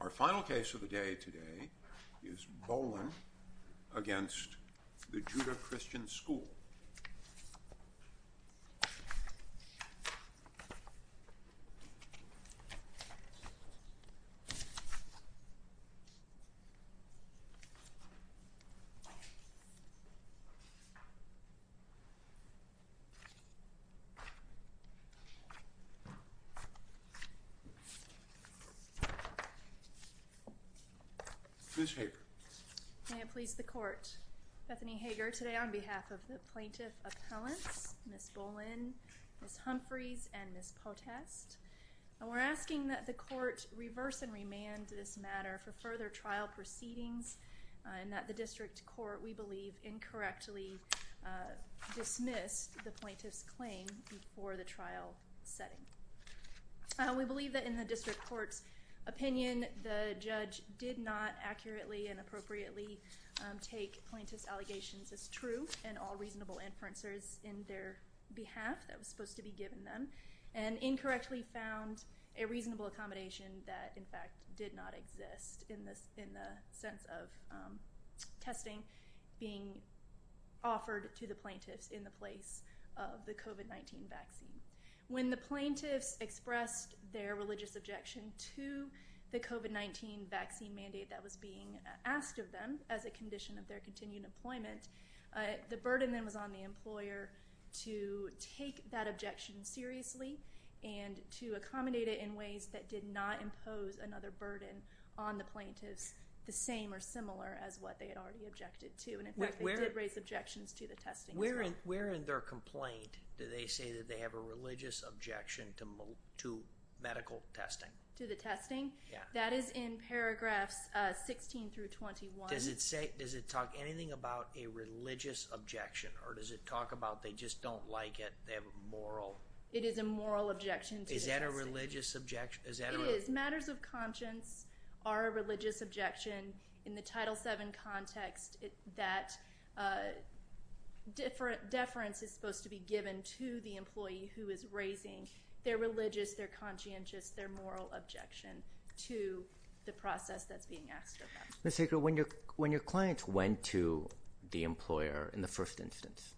Our final case of the day today is Bowlin against the Judah Christian School. Ms. Hager. May it please the court, Bethany Hager, today on behalf of the plaintiff appellants, Ms. Bowlin, Ms. Humphreys, and Ms. Potest, we're asking that the court reverse and remand this matter for further trial proceedings and that the district court, we believe, incorrectly dismissed the plaintiff's claim for the plaintiff's opinion. The judge did not accurately and appropriately take plaintiff's allegations as true and all reasonable inferences in their behalf that was supposed to be given them and incorrectly found a reasonable accommodation that in fact did not exist in this in the sense of testing being offered to the plaintiffs in the place of the COVID-19 vaccine. When the plaintiffs objected to the COVID-19 vaccine mandate that was being asked of them as a condition of their continued employment, the burden then was on the employer to take that objection seriously and to accommodate it in ways that did not impose another burden on the plaintiffs the same or similar as what they had already objected to. And in fact, they did raise objections to the testing. Where in their complaint do they say that they have a religious objection to medical testing? To the testing? Yeah. That is in paragraphs 16 through 21. Does it say, does it talk anything about a religious objection or does it talk about they just don't like it, they have a moral? It is a moral objection. Is that a religious objection? It is. Matters of conscience are a religious objection in the Title VII context that deference is supposed to be given to the conscientious, their moral objection to the process that's being asked of them. Ms. Hager, when your clients went to the employer in the first instance,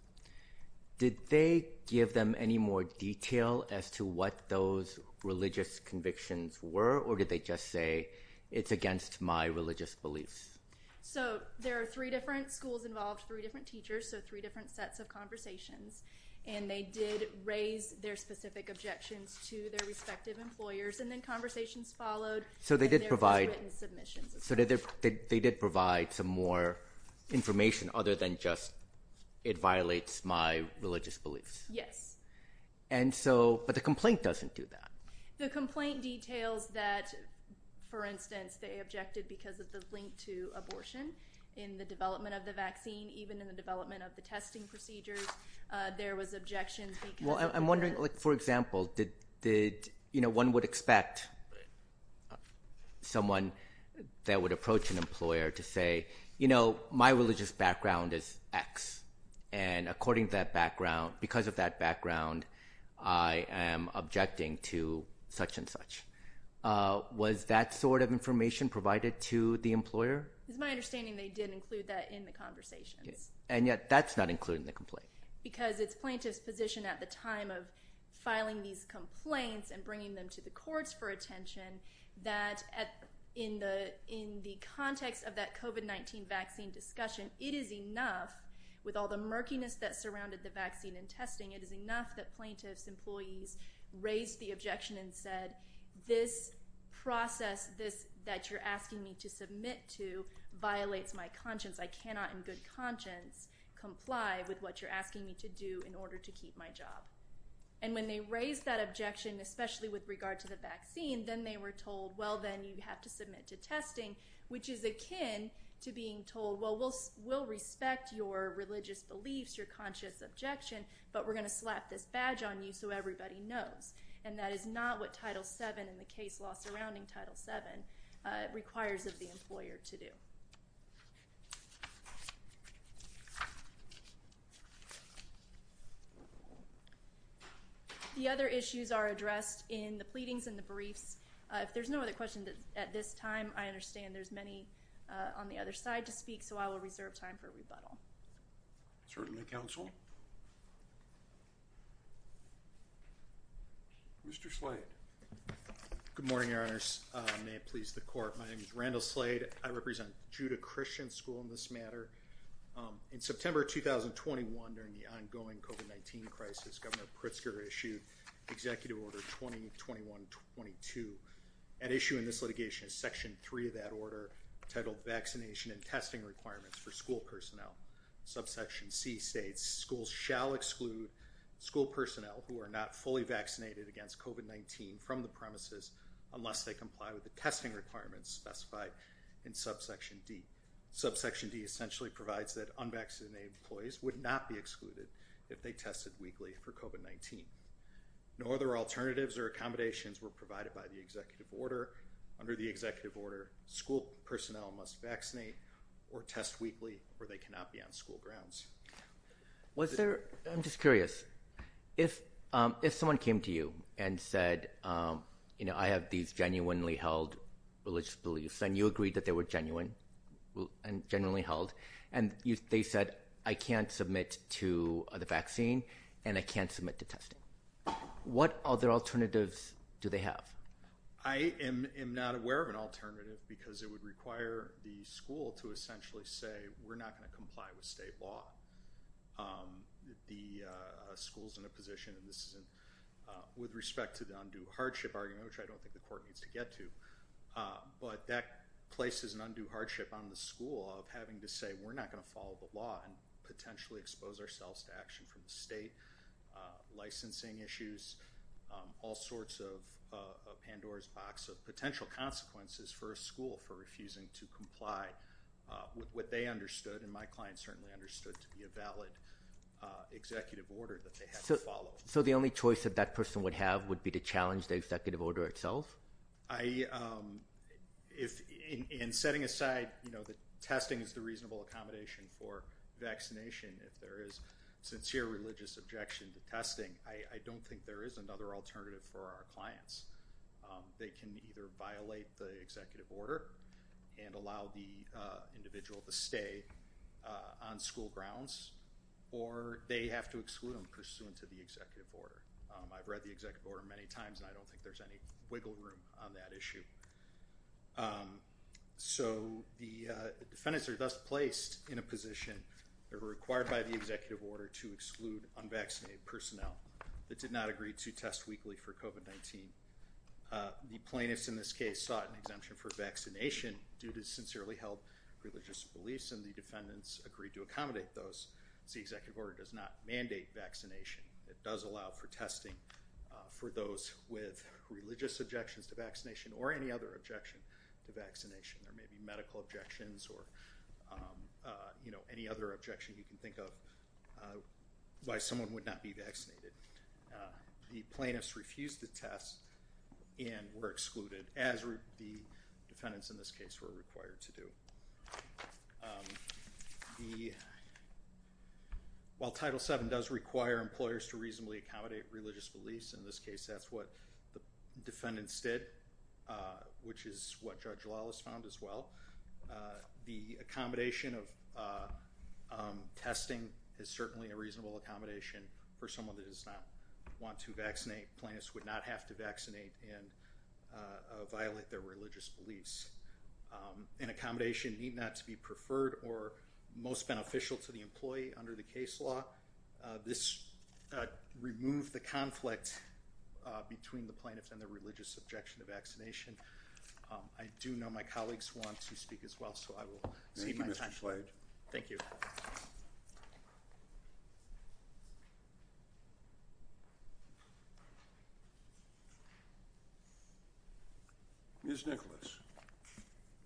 did they give them any more detail as to what those religious convictions were or did they just say it's against my religious beliefs? So there are three different schools involved, three different teachers, so three different sets of conversations and they did raise their specific objections to their respective employers and then conversations followed. So they did provide, so they did provide some more information other than just it violates my religious beliefs? Yes. And so, but the complaint doesn't do that. The complaint details that, for instance, they objected because of the link to abortion in the development of the vaccine, even in the development of the testing procedures, there was objections. Well, I'm wondering, like, for example, did, you know, one would expect someone that would approach an employer to say, you know, my religious background is X and according to that background, because of that background, I am objecting to such-and-such. Was that sort of information provided to the employer? It's my understanding they did include that in the conversations. And yet that's not including the complaint. Because it's plaintiffs position at the time of filing these complaints and bringing them to the courts for attention that in the context of that COVID-19 vaccine discussion, it is enough with all the murkiness that surrounded the vaccine and testing, it is enough that plaintiffs' employees raised the objection and said, this process that you're asking me to submit to cannot in good conscience comply with what you're asking me to do in order to keep my job. And when they raised that objection, especially with regard to the vaccine, then they were told, well, then you have to submit to testing, which is akin to being told, well, we'll respect your religious beliefs, your conscious objection, but we're going to slap this badge on you so everybody knows. And that is not what Title VII and the case law surrounding Title VII requires of the employer to do. The other issues are addressed in the pleadings and the briefs. If there's no other question at this time, I understand there's many on the other side to speak, so I will reserve time for rebuttal. Certainly, counsel. Mr. Slade. Good morning, Your Honors. May it please the Court. My name is Randall Slade. I represent Judah Christian School in this matter. In September 2021, during the ongoing COVID-19 crisis, Governor Pritzker issued Executive Order 2021-22. At issue in this litigation is Section 3 of that order, titled Vaccination and School Personnel who are not fully vaccinated against COVID-19 from the premises unless they comply with the testing requirements specified in Subsection D. Subsection D essentially provides that unvaccinated employees would not be excluded if they tested weekly for COVID-19. No other alternatives or accommodations were provided by the Executive Order. Under the Executive Order, school personnel must vaccinate or test weekly or they I'm just curious. If someone came to you and said, you know, I have these genuinely held religious beliefs and you agreed that they were genuine and genuinely held and they said I can't submit to the vaccine and I can't submit to testing. What other alternatives do they have? I am not aware of an alternative because it would require the school to essentially say we're not going to comply with state law. The school's in a position and this isn't with respect to the undue hardship argument, which I don't think the court needs to get to, but that places an undue hardship on the school of having to say we're not going to follow the law and potentially expose ourselves to action from the state, licensing issues, all sorts of Pandora's box of potential consequences for a school for refusing to comply with what they understood and my client certainly understood to be a valid Executive Order that they had to follow. So the only choice that that person would have would be to challenge the Executive Order itself? In setting aside, you know, that testing is the reasonable accommodation for vaccination, if there is sincere religious objection to testing, I don't think there is another alternative for our clients. They can either violate the Executive Order and allow the individual to stay on school grounds or they have to exclude them pursuant to the Executive Order. I've read the Executive Order many times and I don't think there's any wiggle room on that issue. So the defendants are thus placed in a position they're required by the Executive Order to exclude unvaccinated personnel that did not agree to test weekly for COVID-19. The plaintiffs in this case sought an exemption for vaccination due to sincerely held religious beliefs and the defendants agreed to accommodate those. The Executive Order does not mandate vaccination. It does allow for testing for those with religious objections to vaccination or any other objection to vaccination. There may be medical objections or, you know, any other objection you can think of why someone would not be vaccinated. The plaintiffs refused to test and were excluded as the defendants in this case were required to do. While Title VII does require employers to reasonably accommodate religious beliefs, in this case that's what the defendants did, which is what Judge Lawless found as the accommodation of testing is certainly a reasonable accommodation for someone that does not want to vaccinate. Plaintiffs would not have to vaccinate and violate their religious beliefs. An accommodation need not to be preferred or most beneficial to the employee under the case law. This removed the conflict between the plaintiffs and the religious objection to vaccination. I do know my Thank you, Mr. Slade. Thank you. Ms. Nicholas.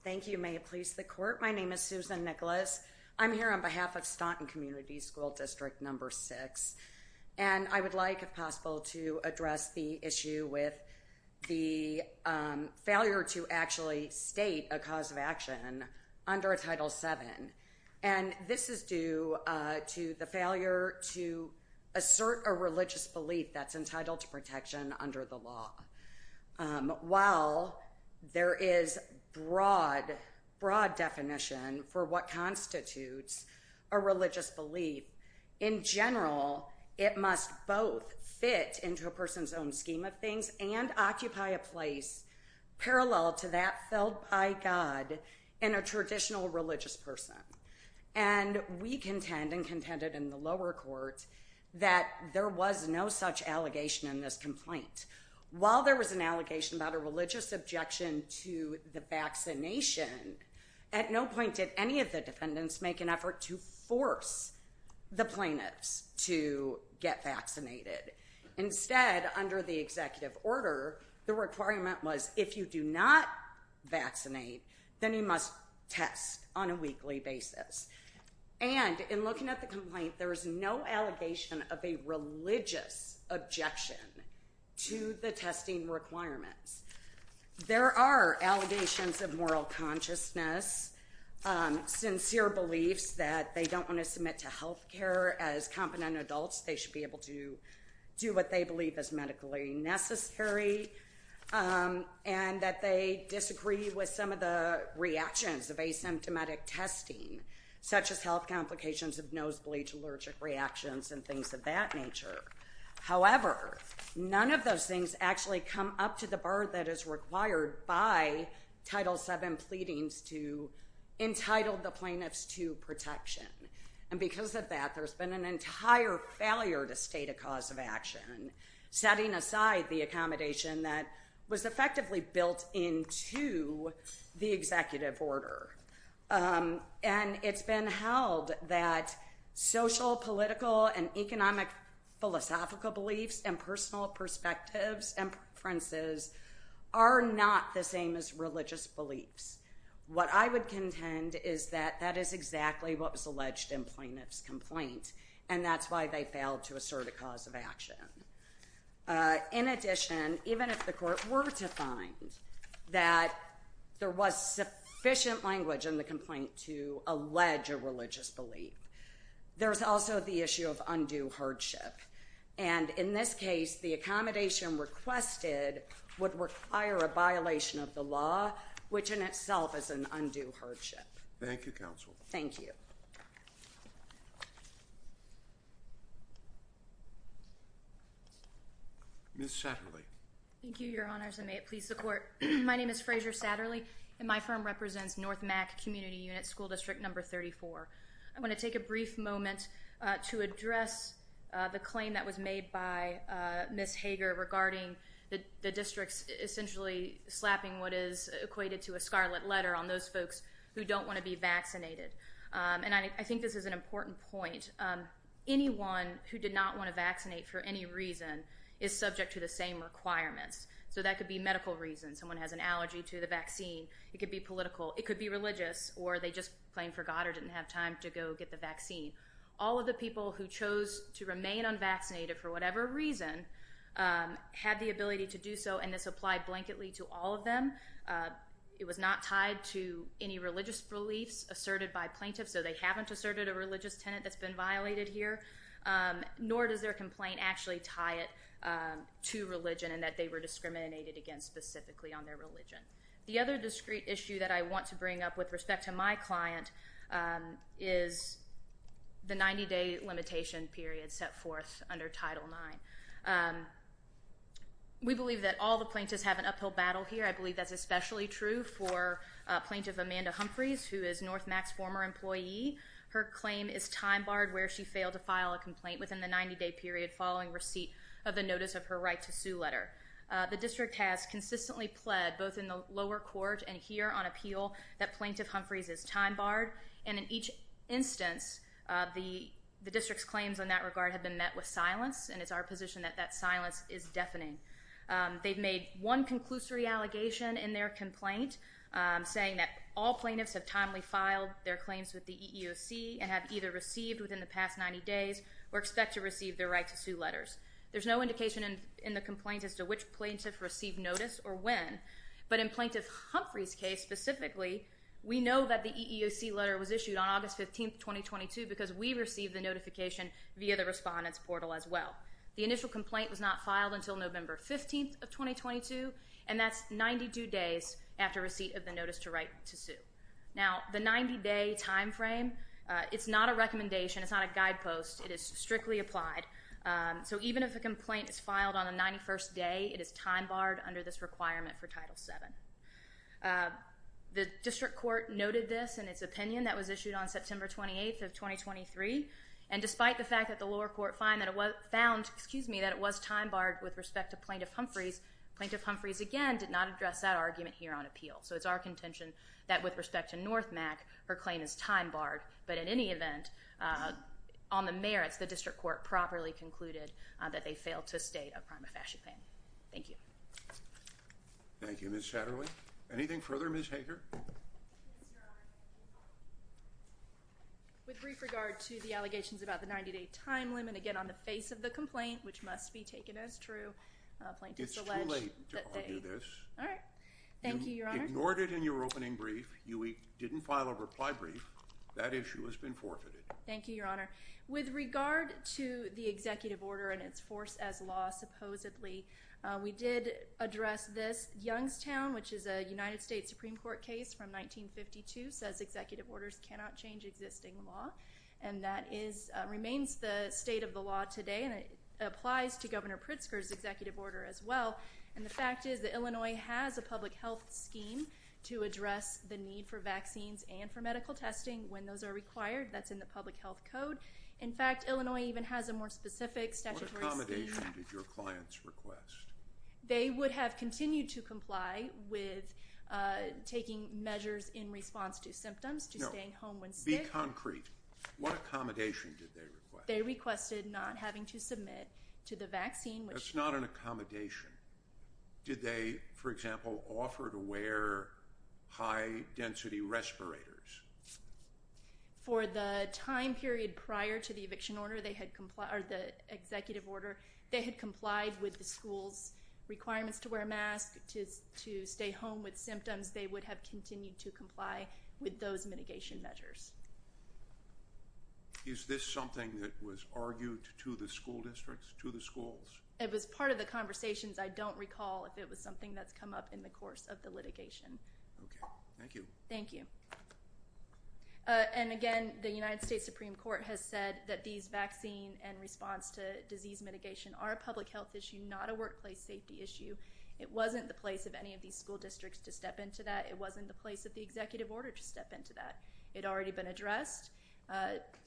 Thank you. May it please the court, my name is Susan Nicholas. I'm here on behalf of Staunton Community School District number six and I would like if possible to address the issue with the failure to actually state a cause of protection under a Title VII and this is due to the failure to assert a religious belief that's entitled to protection under the law. While there is broad, broad definition for what constitutes a religious belief, in general it must both fit into a person's own scheme of things and occupy a place parallel to that felt by God in a traditional religious person. And we contend and contended in the lower court that there was no such allegation in this complaint. While there was an allegation about a religious objection to the vaccination, at no point did any of the defendants make an effort to force the plaintiffs to get vaccinated. Instead, under the executive order, the if you do not vaccinate, then you must test on a weekly basis. And in looking at the complaint, there is no allegation of a religious objection to the testing requirements. There are allegations of moral consciousness, sincere beliefs that they don't want to submit to health care as competent adults. They should be able to do what they believe is medically necessary. And that they disagree with some of the reactions of asymptomatic testing, such as health complications of nosebleed, allergic reactions, and things of that nature. However, none of those things actually come up to the bar that is required by Title VII pleadings to entitle the plaintiffs to protection. And because of that, there's been an entire failure to state a cause of action, setting aside the accommodation that was effectively built into the executive order. And it's been held that social, political, and economic philosophical beliefs and personal perspectives and preferences are not the same as religious beliefs. What I would contend is that that is exactly what was alleged in plaintiff's complaint. And that's why they failed to assert a cause of action. In addition, even if the court were to find that there was sufficient language in the complaint to allege a religious belief, there's also the issue of undue hardship. And in this case, the accommodation requested would require a violation of the law, which in itself is an undue hardship. Thank you, counsel. Thank you. Ms. Satterley. Thank you, Your Honors, and may it please the Court. My name is Frazier Satterley, and my firm represents North Mac Community Unit, School District Number 34. I want to take a brief moment to address the claim that was made by Ms. Hager regarding the district's essentially slapping what is those folks who don't want to be vaccinated. And I think this is an important point. Anyone who did not want to vaccinate for any reason is subject to the same requirements. So that could be medical reasons. Someone has an allergy to the vaccine. It could be political. It could be religious, or they just plain forgot or didn't have time to go get the vaccine. All of the people who chose to remain unvaccinated for whatever reason had the ability to do so, and this applied blanketly to all of them. It was not tied to any religious beliefs asserted by plaintiffs, so they haven't asserted a religious tenet that's been violated here, nor does their complaint actually tie it to religion and that they were discriminated against specifically on their religion. The other discrete issue that I want to bring up with respect to my client is the 90-day limitation period set forth under Title IX. We believe that all the plaintiffs have an uphill battle here. I believe that's especially true for Plaintiff Amanda Humphreys, who is NorthMAC's former employee. Her claim is time barred where she failed to file a complaint within the 90-day period following receipt of the notice of her right to sue letter. The district has consistently pled, both in the lower court and here on appeal, that Plaintiff Humphreys is The district's claims in that regard have been met with silence, and it's our position that that silence is deafening. They've made one conclusory allegation in their complaint saying that all plaintiffs have timely filed their claims with the EEOC and have either received within the past 90 days or expect to receive their right to sue letters. There's no indication in the complaint as to which plaintiff received notice or when, but in Plaintiff Humphreys' case specifically, we know that the EEOC letter was issued on August 15, 2022 because we received the notification via the Respondents Portal as well. The initial complaint was not filed until November 15th of 2022, and that's 92 days after receipt of the notice to write to sue. Now, the 90-day timeframe, it's not a recommendation, it's not a guidepost, it is strictly applied. So even if a complaint is filed on the 91st day, it is time barred under this requirement for Title VII. The district court noted this in its opinion that was issued on September 28th of 2023, and despite the fact that the lower court found that it was time barred with respect to Plaintiff Humphreys, Plaintiff Humphreys again did not address that argument here on appeal. So it's our contention that with respect to North Mack, her claim is time barred, but in any event, on the merits, the district court properly concluded that they failed to state a prima facie plan. Thank you. Thank you, Ms. Satterley. Anything further, Ms. Hager? With brief regard to the allegations about the 90-day time limit, again on the face of the complaint, which must be taken as true, plaintiffs allege that they... It's too late to argue this. All right. Thank you, Your Honor. You ignored it in your opening brief, you didn't file a reply brief, that issue has been forfeited. Thank you, Your Honor. With regard to the executive order and its force as law, supposedly, we did address this. Youngstown, which is a United States Supreme Court case from 1952, says executive orders cannot change existing law, and that is remains the state of the law today, and it applies to Governor Pritzker's executive order as well, and the fact is that Illinois has a public health scheme to address the need for vaccines and for medical testing when those are required. That's in the public health code. In fact, Illinois even has a more specific statutory scheme. What accommodation did your clients request? They would have continued to comply with taking measures in response to symptoms, to staying home when sick. Be concrete. What accommodation did they request? They requested not having to submit to the vaccine, which... That's not an accommodation. Did they, for example, offer to wear high masks? For a time period prior to the eviction order, they had complied, or the executive order, they had complied with the school's requirements to wear masks, to stay home with symptoms, they would have continued to comply with those mitigation measures. Is this something that was argued to the school districts, to the schools? It was part of the conversations. I don't recall if it was something that's come up in the course of the litigation. Okay, thank you. Thank you. And again, the United States Supreme Court has said that these vaccine and response to disease mitigation are a public health issue, not a workplace safety issue. It wasn't the place of any of these school districts to step into that. It wasn't the place of the executive order to step into that. It had already been addressed.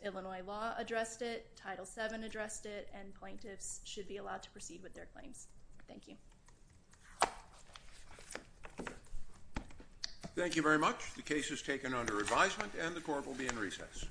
Illinois law addressed it, Title VII addressed it, and plaintiffs should be allowed to proceed with their claims. Thank you. Thank you very much. The case is taken under advisement and the court will be in recess.